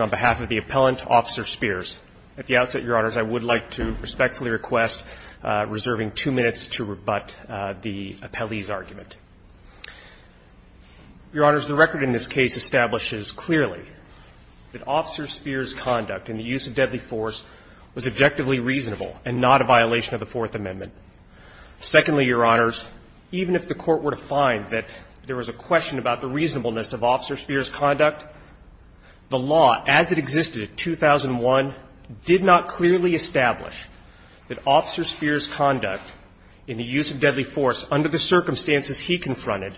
on behalf of the appellant, Officer Speers. At the outset, Your Honors, I would like to respectfully request reserving two minutes to rebut the appellee's argument. Your Honors, the record in this case establishes clearly that Officer Speers' conduct in the use of deadly force was objectively reasonable and not a violation of the Fourth Amendment. Secondly, Your Honors, even if the Court were to find that there was a question about the reasonableness of Officer Speers' conduct, the law as it existed in 2001 did not clearly establish that Officer Speers' conduct in the use of deadly force under the circumstances he confronted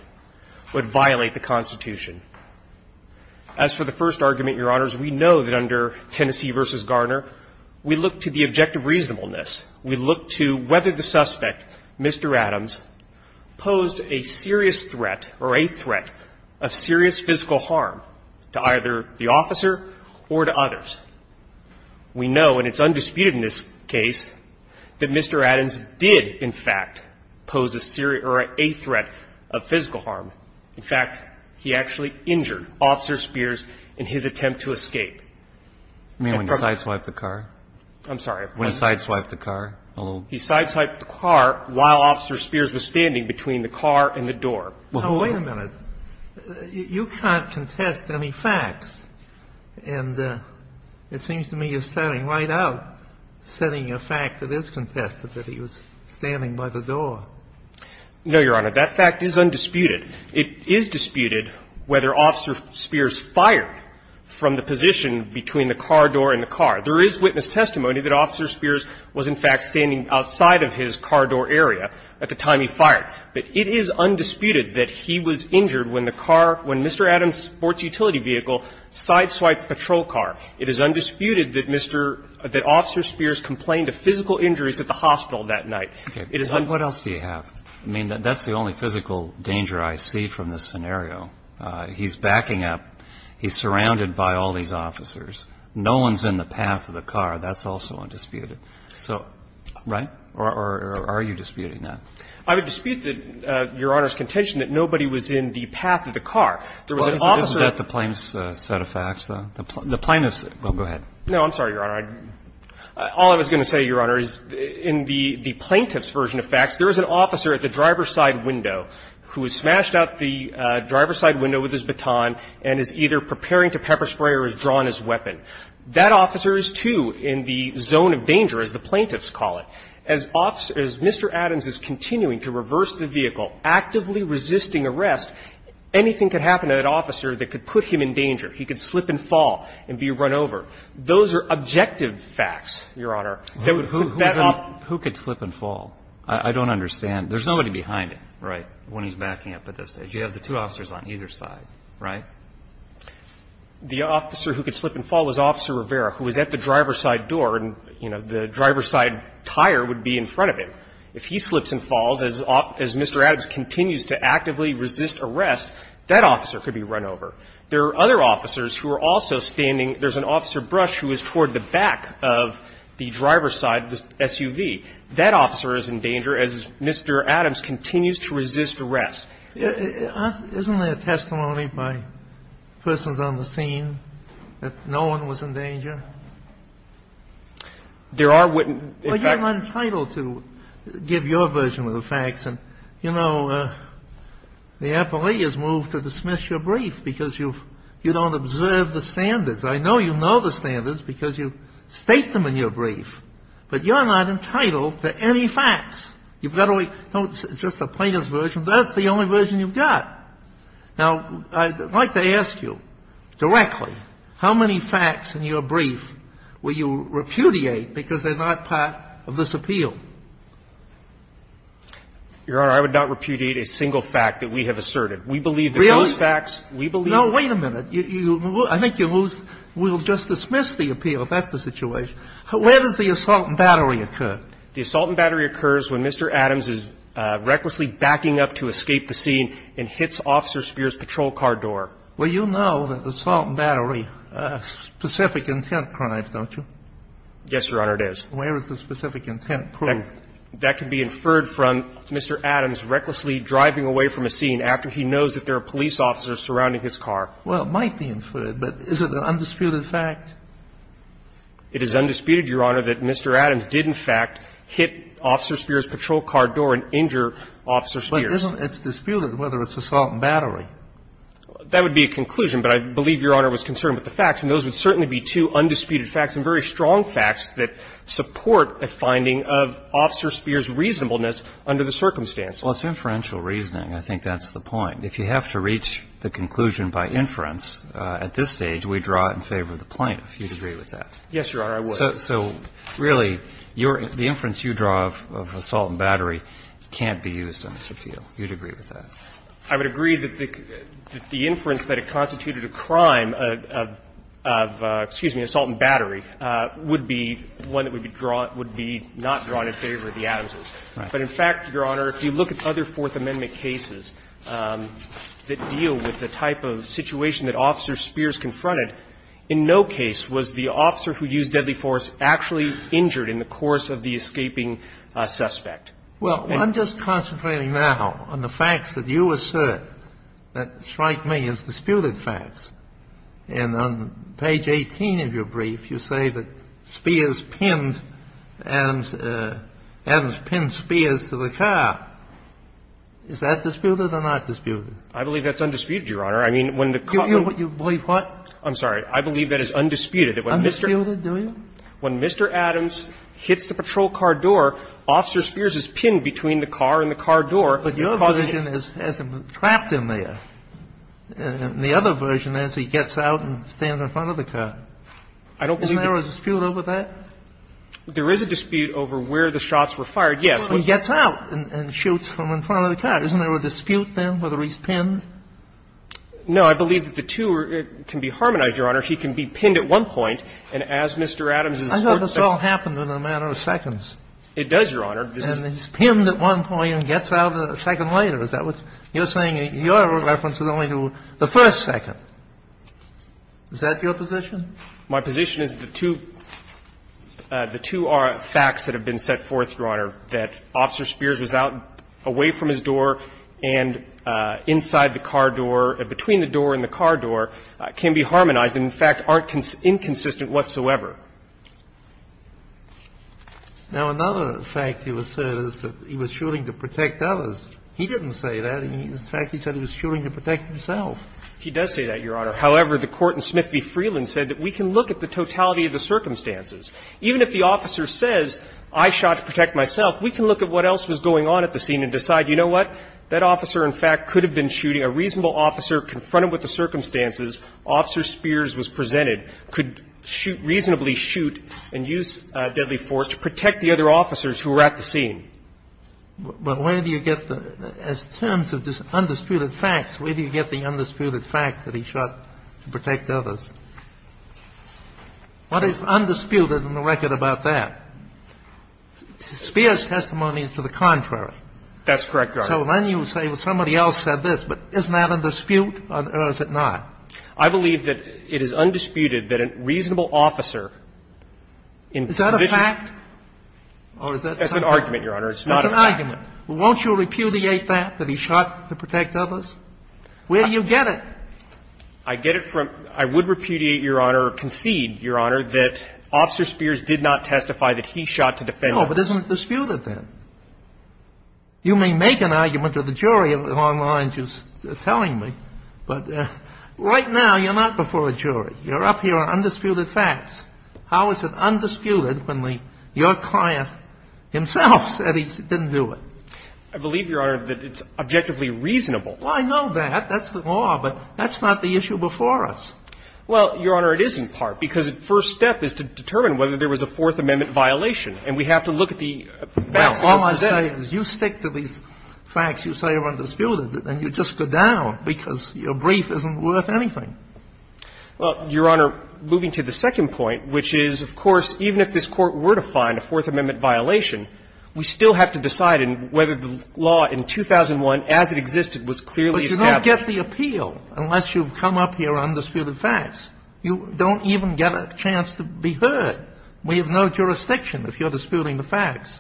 would violate the Constitution. As for the first argument, Your Honors, we know that under Tennessee v. Garner, we look to the objective reasonableness. We look to whether the suspect, Mr. Adams, posed a serious threat or a threat of serious physical harm to either the officer or to others. We know, and it's undisputed in this case, that Mr. Adams did, in fact, pose a serious or a threat of physical harm. In fact, he actually injured Officer Speers in his attempt to escape. I mean, when he sideswiped the car? I'm sorry. When he sideswiped the car? He sideswiped the car while Officer Speers was standing between the car and the door. Now, wait a minute. You can't contest any facts. And it seems to me you're starting right out setting a fact that is contested, that he was standing by the door. No, Your Honor. That fact is undisputed. It is disputed whether Officer Speers fired from the position between the car door and the car. There is witness testimony that Officer Speers was, in fact, standing outside of his car door area at the time he fired. But it is undisputed that he was injured when the car – when Mr. Adams' sports utility vehicle sideswiped the patrol car. It is undisputed that Mr. – that Officer Speers complained of physical injuries at the hospital that night. It is undisputed. And what else do you have? I mean, that's the only physical danger I see from this scenario. He's backing up. He's surrounded by all these officers. No one's in the path of the car. That's also undisputed. So, right? Or are you disputing that? I would dispute that, Your Honor's contention, that nobody was in the path of the car. There was an officer – Isn't that the plaintiff's set of facts, though? The plaintiff's – well, go ahead. No, I'm sorry, Your Honor. All I was going to say, Your Honor, is in the plaintiff's version of facts, there is an officer at the driver's side window who has smashed out the driver's side window with his baton and is either preparing to pepper spray or has drawn his weapon. That officer is, too, in the zone of danger, as the plaintiffs call it. As officer – as Mr. Adams is continuing to reverse the vehicle, actively resisting arrest, anything could happen to that officer that could put him in danger. He could slip and fall and be run over. Those are objective facts, Your Honor. That would put that off – Who could slip and fall? I don't understand. There's nobody behind him, right, when he's backing up at this stage. You have the two officers on either side, right? The officer who could slip and fall was Officer Rivera, who was at the driver's side door, and, you know, the driver's side tire would be in front of him. If he slips and falls, as Mr. Adams continues to actively resist arrest, that officer could be run over. There are other officers who are also standing – there's an officer, Brush, who is toward the back of the driver's side of the SUV. That officer is in danger, as Mr. Adams continues to resist arrest. Isn't there testimony by persons on the scene that no one was in danger? There are witnesses. But you're entitled to give your version of the facts. And, you know, the appellee has moved to dismiss your brief because you've – you don't observe the standards. I know you know the standards because you state them in your brief, but you're not entitled to any facts. You've got to wait – no, it's just a plaintiff's version. That's the only version you've got. Now, I'd like to ask you directly, how many facts in your brief will you repudiate because they're not part of this appeal? Your Honor, I would not repudiate a single fact that we have asserted. We believe that those facts, we believe that they're not part of this appeal. We'll just dismiss the appeal. That's the situation. Where does the assault and battery occur? The assault and battery occurs when Mr. Adams is recklessly backing up to escape the scene and hits Officer Spears' patrol car door. Well, you know that assault and battery are specific intent crimes, don't you? Yes, Your Honor, it is. Where is the specific intent proven? That can be inferred from Mr. Adams recklessly driving away from a scene after he knows that there are police officers surrounding his car. Well, it might be inferred, but is it an undisputed fact? It is undisputed, Your Honor, that Mr. Adams did, in fact, hit Officer Spears' patrol car door and injure Officer Spears. But isn't it disputed whether it's assault and battery? That would be a conclusion, but I believe Your Honor was concerned with the facts, and those would certainly be two undisputed facts and very strong facts that support a finding of Officer Spears' reasonableness under the circumstance. Well, it's inferential reasoning. I think that's the point. If you have to reach the conclusion by inference, at this stage, we draw it in favor of the plaintiff. Do you agree with that? Yes, Your Honor, I would. So really, the inference you draw of assault and battery can't be used on this appeal. Do you agree with that? I would agree that the inference that it constituted a crime of, excuse me, assault and battery would be one that would be not drawn in favor of the Adamses. Right. But in fact, Your Honor, if you look at other Fourth Amendment cases that deal with the type of situation that Officer Spears confronted, in no case was the officer who used deadly force actually injured in the course of the escaping suspect. Well, I'm just concentrating now on the facts that you assert that strike me as disputed facts. And on page 18 of your brief, you say that Spears pinned Adams, Adams pinned Spears to the car. Is that disputed or not disputed? I believe that's undisputed, Your Honor. I mean, when the car was ---- You believe what? I'm sorry. I believe that is undisputed. Undisputed, do you? When Mr. Adams hits the patrol car door, Officer Spears is pinned between the car and the car door. But your version is as if he's trapped in there. And the other version is he gets out and stands in front of the car. I don't believe that. Isn't there a dispute over that? There is a dispute over where the shots were fired, yes. And he gets out and shoots from in front of the car. Isn't there a dispute, then, whether he's pinned? No. I believe that the two can be harmonized, Your Honor. He can be pinned at one point, and as Mr. Adams is ---- I thought this all happened in a matter of seconds. It does, Your Honor. And he's pinned at one point and gets out a second later. Is that what you're saying? Your reference is only to the first second. Is that your position? My position is that the two are facts that have been set forth, Your Honor, that Officer Spears was out away from his door and inside the car door, between the door and the car door, can be harmonized and, in fact, aren't inconsistent whatsoever. Now, another fact he was saying is that he was shooting to protect others. He didn't say that. In fact, he said he was shooting to protect himself. He does say that, Your Honor. However, the court in Smith v. Freeland said that we can look at the totality of the circumstances. Even if the officer says, I shot to protect myself, we can look at what else was going on at the scene and decide, you know what, that officer, in fact, could have been shooting. A reasonable officer confronted with the circumstances, Officer Spears was presented, could shoot ---- reasonably shoot and use deadly force to protect the other officers who were at the scene. But where do you get the ---- as terms of this undisputed facts, where do you get the undisputed fact that he shot to protect others? What is undisputed in the record about that? Spears' testimony is to the contrary. That's correct, Your Honor. So then you say, well, somebody else said this, but isn't that a dispute or is it not? I believe that it is undisputed that a reasonable officer in position ---- Is that a fact or is that something ---- That's an argument, Your Honor. It's not a fact. It's an argument. Won't you repudiate that, that he shot to protect others? Where do you get it? I get it from ---- I would repudiate, Your Honor, or concede, Your Honor, that Officer Spears did not testify that he shot to defend others. No, but isn't it disputed then? You may make an argument to the jury on the line just telling me, but right now you're not before a jury. You're up here on undisputed facts. How is it undisputed when the ---- your client himself said he didn't do it? I believe, Your Honor, that it's objectively reasonable. Well, I know that. That's the law. But that's not the issue before us. Well, Your Honor, it is in part, because the first step is to determine whether there was a Fourth Amendment violation, and we have to look at the facts. All I'm saying is you stick to these facts you say are undisputed, and you just go down because your brief isn't worth anything. Well, Your Honor, moving to the second point, which is, of course, even if this Court were to find a Fourth Amendment violation, we still have to decide whether the law in 2001, as it existed, was clearly established. You don't get the appeal unless you've come up here on undisputed facts. You don't even get a chance to be heard. We have no jurisdiction if you're disputing the facts.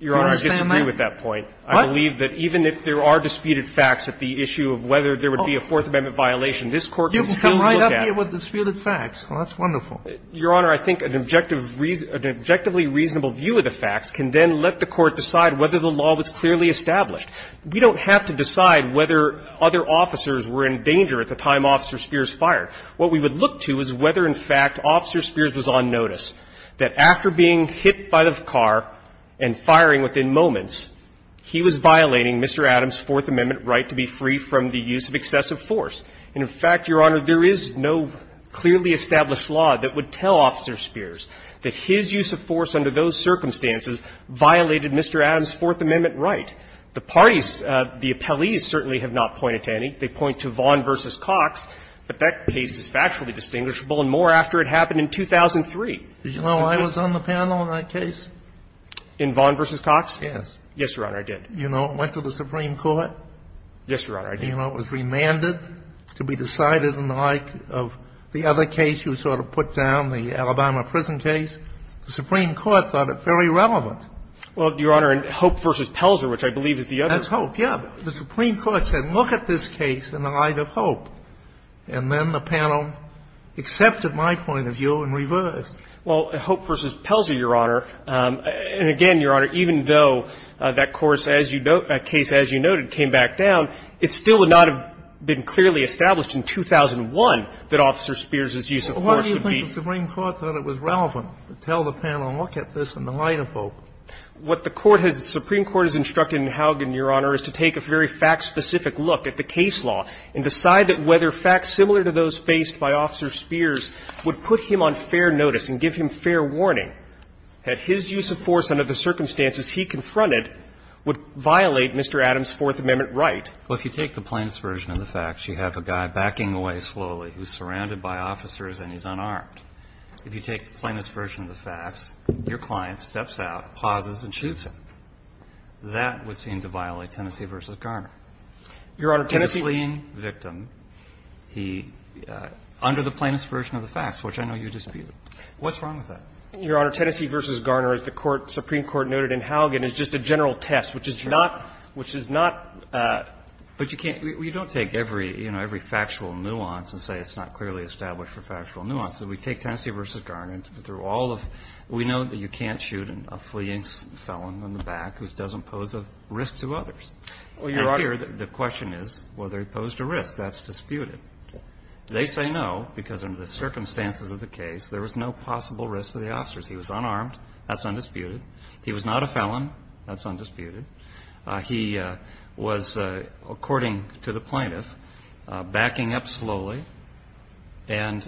Do you understand that? Your Honor, I disagree with that point. What? I believe that even if there are disputed facts at the issue of whether there would be a Fourth Amendment violation, this Court can still look at it. You can come right up here with disputed facts. Well, that's wonderful. Your Honor, I think an objective ---- an objectively reasonable view of the facts can then let the Court decide whether the law was clearly established. We don't have to decide whether other officers were in danger at the time Officer Spears fired. What we would look to is whether, in fact, Officer Spears was on notice that after being hit by the car and firing within moments, he was violating Mr. Adams' Fourth Amendment right to be free from the use of excessive force. And, in fact, Your Honor, there is no clearly established law that would tell Officer Spears that his use of force under those circumstances violated Mr. Adams' Fourth Amendment right. The parties, the appellees certainly have not pointed to any. They point to Vaughn v. Cox, but that case is factually distinguishable and more after it happened in 2003. Did you know I was on the panel in that case? In Vaughn v. Cox? Yes. Yes, Your Honor, I did. You know, it went to the Supreme Court. Yes, Your Honor, I did. You know, it was remanded to be decided in the like of the other case you sort of put down, the Alabama prison case. The Supreme Court thought it very relevant. Well, Your Honor, in Hope v. Pelzer, which I believe is the other one. That's Hope, yes. The Supreme Court said, look at this case in the light of Hope, and then the panel accepted my point of view and reversed. Well, Hope v. Pelzer, Your Honor, and again, Your Honor, even though that course as you note, that case as you noted, came back down, it still would not have been clearly established in 2001 that Officer Spears' use of force would be. Well, why do you think the Supreme Court thought it was relevant to tell the panel, well, look at this in the light of Hope? What the Court has the Supreme Court has instructed in Haugen, Your Honor, is to take a very fact-specific look at the case law and decide that whether facts similar to those faced by Officer Spears would put him on fair notice and give him fair warning. Had his use of force under the circumstances he confronted would violate Mr. Adams' Fourth Amendment right. Well, if you take the plainest version of the facts, you have a guy backing away slowly who's surrounded by officers and he's unarmed. If you take the plainest version of the facts, your client steps out, pauses, and shoots him. That would seem to violate Tennessee v. Garner. Your Honor, Tennessee victim, he, under the plainest version of the facts, which I know you dispute, what's wrong with that? Your Honor, Tennessee v. Garner, as the Supreme Court noted in Haugen, is just a general test, which is not, which is not. But you can't, you don't take every, you know, every factual nuance and say it's not clearly established for factual nuance. If we take Tennessee v. Garner, through all of, we know that you can't shoot a fleeing felon on the back who doesn't pose a risk to others. Well, Your Honor, and here the question is whether he posed a risk. That's disputed. They say no because under the circumstances of the case, there was no possible risk to the officers. He was unarmed. That's undisputed. He was not a felon. That's undisputed. He was, according to the plaintiff, backing up slowly. And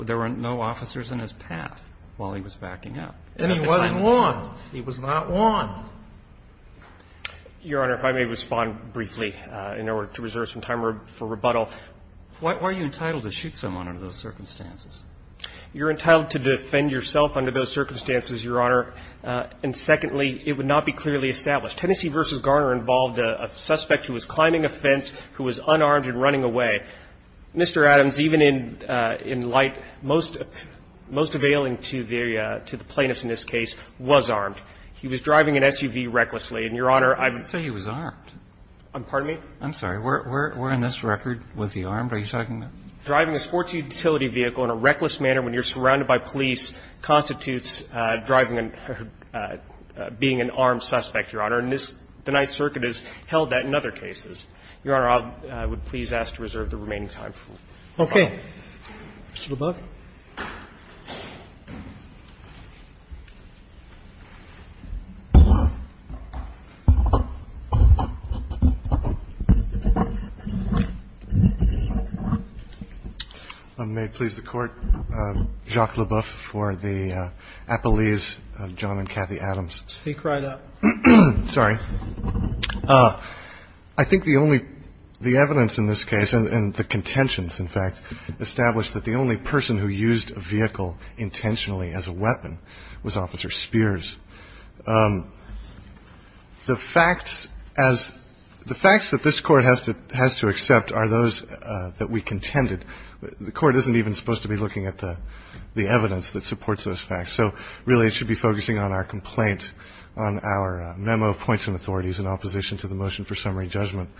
there were no officers in his path while he was backing up. And he wasn't warned. He was not warned. Your Honor, if I may respond briefly in order to reserve some time for rebuttal. Why are you entitled to shoot someone under those circumstances? You're entitled to defend yourself under those circumstances, Your Honor. And secondly, it would not be clearly established. Tennessee v. Garner involved a suspect who was climbing a fence, who was unarmed and running away. Mr. Adams, even in light most availing to the plaintiffs in this case, was armed. He was driving an SUV recklessly. And, Your Honor, I'm going to say he was armed. Pardon me? I'm sorry. Where in this record was he armed? Are you talking about? Driving a sports utility vehicle in a reckless manner when you're surrounded by police constitutes driving and being an armed suspect, Your Honor, and the Ninth Circuit has held that in other cases. Your Honor, I would please ask to reserve the remaining time for rebuttal. Okay. Mr. Leboeuf. May it please the Court. Jacques Leboeuf for the Appellees, John and Kathy Adams. Speak right up. Sorry. I think the only the evidence in this case and the contentions, in fact, established that the only person who used a vehicle intentionally as a weapon was Officer Spears. The facts as the facts that this Court has to has to accept are those that we contended. The Court isn't even supposed to be looking at the evidence that supports those facts. So really, it should be focusing on our complaint, on our memo of points and authorities in opposition to the motion for summary judgment,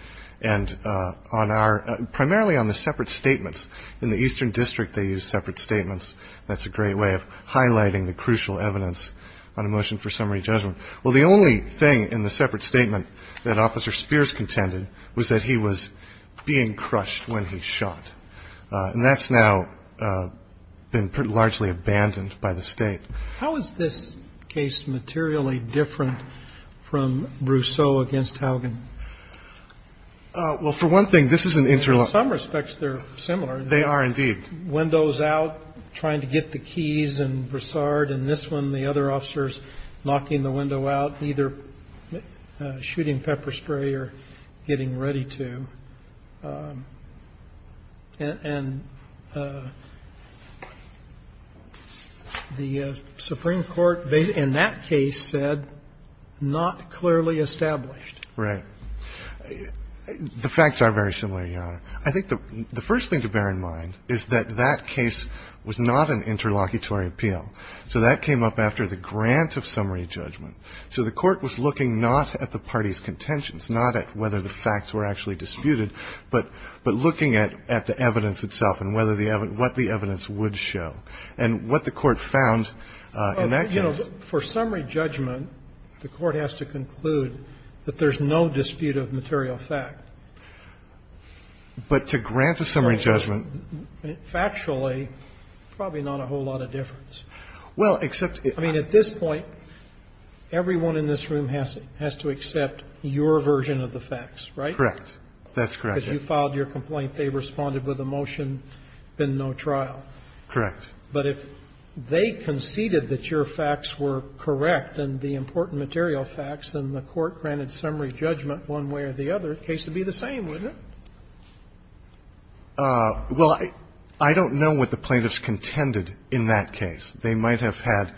and on our primarily on the separate statements. In the Eastern District, they use separate statements. That's a great way of highlighting the crucial evidence on a motion for summary judgment. Well, the only thing in the separate statement that Officer Spears contended was that he was being crushed when he shot. And that's now been pretty largely abandoned by the State. How is this case materially different from Brousseau against Haugen? Well, for one thing, this is an interlocking. In some respects, they're similar. They are, indeed. Windows out, trying to get the keys and Broussard, and this one, the other officers knocking the window out, either shooting pepper spray or getting ready to. And the Supreme Court, in that case, said not clearly established. Right. The facts are very similar, Your Honor. I think the first thing to bear in mind is that that case was not an interlocutory appeal. So that came up after the grant of summary judgment. So the Court was looking not at the parties' contentions, not at whether the facts were actually disputed, but looking at the evidence itself and what the evidence would show and what the Court found in that case. Well, you know, for summary judgment, the Court has to conclude that there's no dispute of material fact. But to grant a summary judgment. Factually, probably not a whole lot of difference. Well, except it. I mean, at this point, everyone in this room has to accept your version of the facts, right? Correct. That's correct. Because you filed your complaint, they responded with a motion, been no trial. Correct. But if they conceded that your facts were correct and the important material facts, then the Court granted summary judgment one way or the other, the case would be the same, wouldn't it? Well, I don't know what the plaintiffs contended in that case. They might have had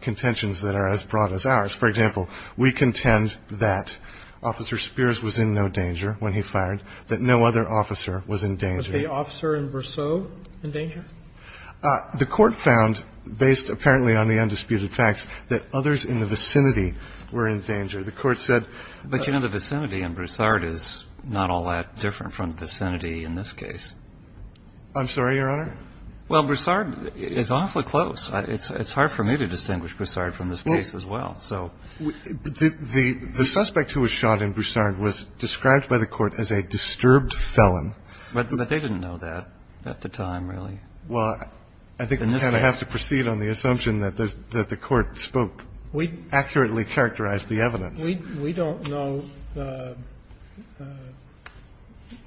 contentions that are as broad as ours. For example, we contend that Officer Spears was in no danger when he fired, that no other officer was in danger. Was the officer in Brousseau in danger? The Court found, based apparently on the undisputed facts, that others in the vicinity were in danger. The Court said But, you know, the vicinity in Broussard is not all that different from the vicinity in this case. I'm sorry, Your Honor? Well, Broussard is awfully close. It's hard for me to distinguish Broussard from this case as well. So the suspect who was shot in Broussard was described by the Court as a disturbed felon. But they didn't know that at the time, really. Well, I think we kind of have to proceed on the assumption that the Court spoke, accurately characterized the evidence. We don't know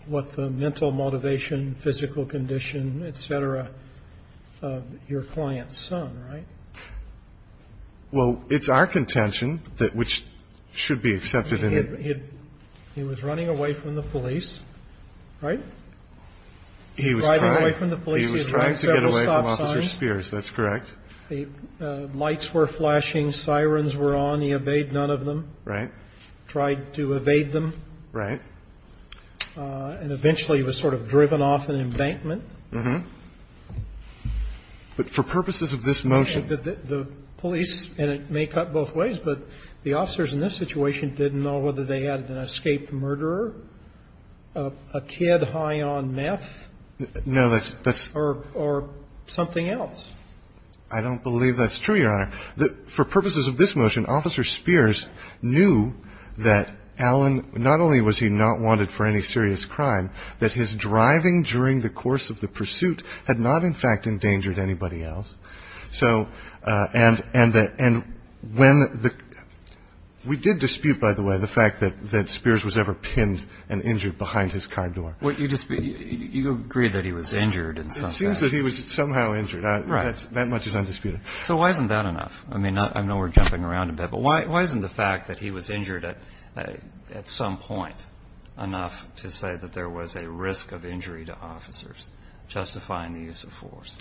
what the mental motivation, physical condition, et cetera, of your client's son, right? Well, it's our contention that which should be accepted in the He was running away from the police, right? He was driving away from the police. He was trying to get away from Officer Spears. That's correct. Lights were flashing. Sirens were on. He obeyed none of them. Right. Tried to evade them. Right. And eventually he was sort of driven off in an embankment. But for purposes of this motion The police, and it may cut both ways, but the officers in this situation didn't know whether they had an escaped murderer, a kid high on meth. No, that's Or something else. I don't believe that's true, Your Honor. For purposes of this motion, Officer Spears knew that Alan, not only was he not wanted for any serious crime, that his driving during the course of the pursuit had not in fact endangered anybody else. So and we did dispute, by the way, the fact that Spears was ever pinned and injured behind his car door. You agree that he was injured in some way. It seems that he was somehow injured. That much is undisputed. So why isn't that enough? I mean, I know we're jumping around a bit, but why isn't the fact that he was injured at some point enough to say that there was a risk of injury to officers justifying the use of force?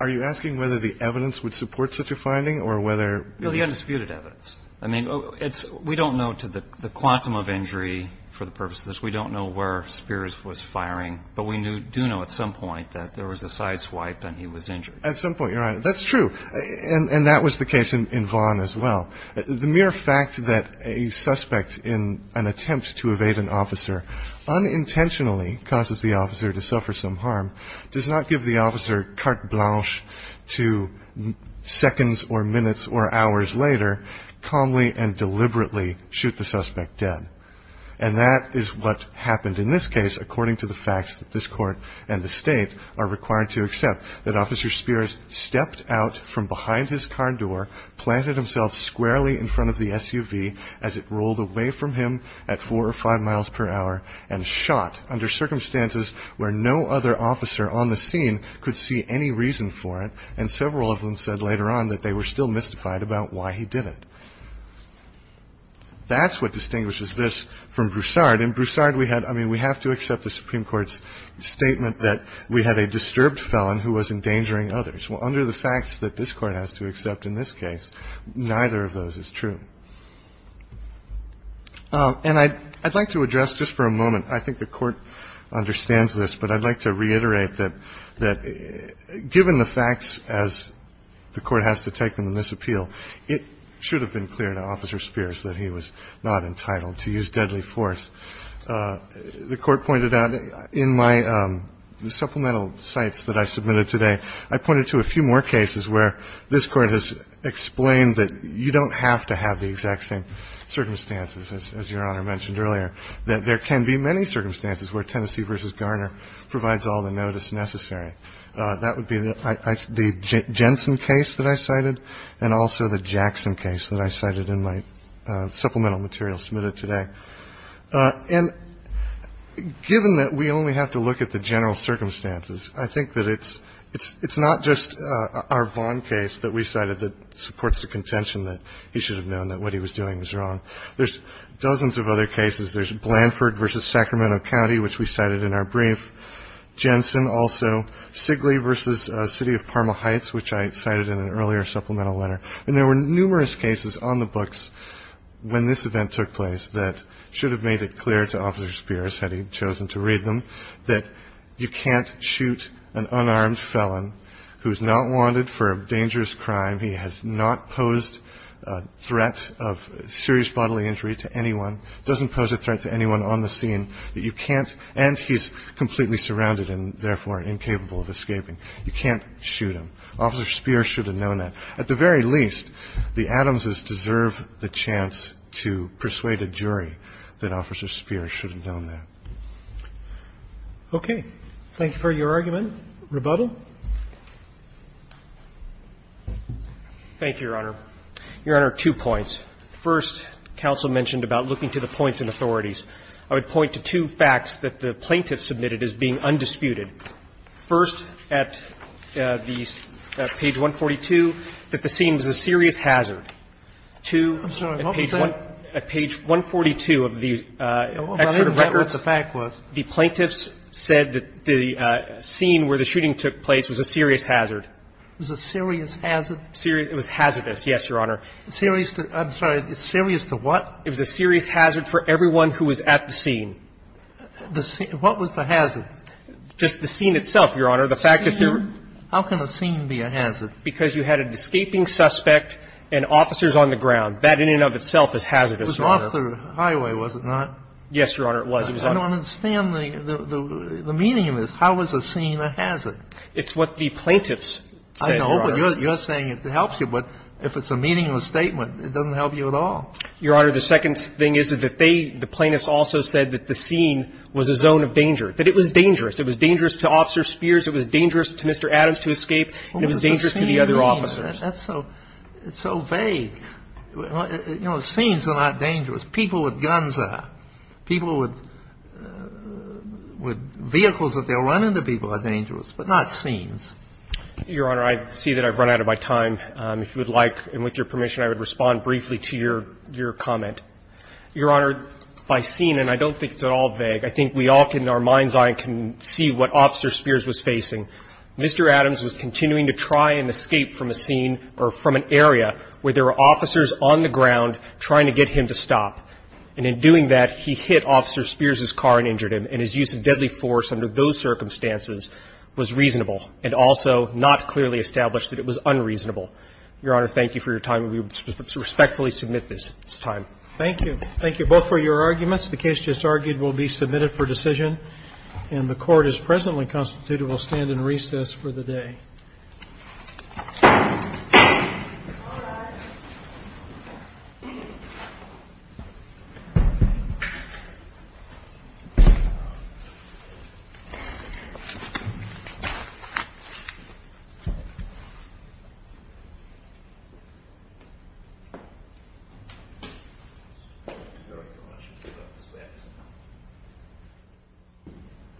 Are you asking whether the evidence would support such a finding or whether No, the undisputed evidence. I mean, we don't know to the quantum of injury for the purposes of this. We don't know where Spears was firing. But we do know at some point that there was a side swipe and he was injured. At some point, you're right. That's true. And that was the case in Vaughn as well. The mere fact that a suspect in an attempt to evade an officer unintentionally causes the officer to suffer some harm does not give the officer carte blanche to seconds or minutes or hours later calmly and deliberately shoot the suspect dead. And that is what happened in this case, according to the facts that this court and the state are required to accept that Officer Spears stepped out from behind his car door, planted himself squarely in front of the SUV as it rolled away from him at four or five miles per hour and shot under circumstances where no other officer on the scene could see any reason for it. And several of them said later on that they were still mystified about why he did it. That's what distinguishes this from Broussard. In Broussard, we had I mean, we have to accept the Supreme Court's statement that we had a disturbed felon who was endangering others. Well, under the facts that this Court has to accept in this case, neither of those is true. And I'd like to address just for a moment, I think the Court understands this, but I'd like to reiterate that given the facts as the Court has to take them in this appeal, it should have been clear to Officer Spears that he was not entitled to use deadly force. The Court pointed out in my supplemental cites that I submitted today, I pointed to a few more cases where this Court has explained that you don't have to have the exact same circumstances, as Your Honor mentioned earlier, that there can be many circumstances where Tennessee v. Garner provides all the notice necessary. That would be the Jensen case that I cited and also the Jackson case that I cited in my supplemental material submitted today. And given that we only have to look at the general circumstances, I think that it's not just our Vaughn case that we cited that supports the contention that he should have known that what he was doing was wrong. There's dozens of other cases. There's Blanford v. Sacramento County, which we cited in our brief. Jensen also. Sigley v. City of Parma Heights, which I cited in an earlier supplemental letter. And there were numerous cases on the books when this event took place that should have made it clear to Officer Spears, had he chosen to read them, that you can't shoot an unarmed felon who's not wanted for a dangerous crime. He has not posed a threat of serious bodily injury to anyone, doesn't pose a threat to anyone on the scene, that you can't, and he's completely surrounded and therefore incapable of escaping, you can't shoot him. Officer Spears should have known that. At the very least, the Adamses deserve the chance to persuade a jury that Officer Spears should have known that. Okay. Thank you for your argument. Rebuttal. Thank you, Your Honor. Your Honor, two points. First, counsel mentioned about looking to the points and authorities. I would point to two facts that the plaintiff submitted as being undisputed. First, at the page 142, that the scene was a serious hazard. The plaintiffs said that the scene where the shooting took place was a serious hazard. It was a serious hazard? It was hazardous, yes, Your Honor. Serious to the what? It was a serious hazard for everyone who was at the scene. What was the hazard? Just the scene itself, Your Honor. The fact that there were How can a scene be a hazard? Because you had an escaping suspect and officers on the ground. That in and of itself is hazardous. It was off the highway, was it not? Yes, Your Honor, it was. I don't understand the meaning of this. How is a scene a hazard? It's what the plaintiffs said, Your Honor. I know, but you're saying it helps you. But if it's a meaningless statement, it doesn't help you at all. Your Honor, the second thing is that they, the plaintiffs also said that the scene was a zone of danger, that it was dangerous. It was dangerous to Officer Spears. It was dangerous to Mr. Adams to escape. It was dangerous to the other officers. That's so vague. You know, scenes are not dangerous. People with guns are. People with vehicles that they'll run into people are dangerous, but not scenes. Your Honor, I see that I've run out of my time. If you would like, and with your permission, I would respond briefly to your comment. Your Honor, by scene, and I don't think it's at all vague, I think we all can, in our mind's eye, can see what Officer Spears was facing. Mr. Adams was continuing to try and escape from a scene or from an area where there were officers on the ground trying to get him to stop, and in doing that, he hit Officer Spears's car and injured him. And his use of deadly force under those circumstances was reasonable and also not clearly established that it was unreasonable. Your Honor, thank you for your time, and we respectfully submit this. It's time. Thank you. Thank you both for your arguments. The case just argued will be submitted for decision, and the Court has presently constituted, we'll stand in recess for the day. All rise.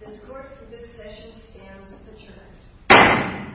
This Court for this session stands adjourned. Thank you.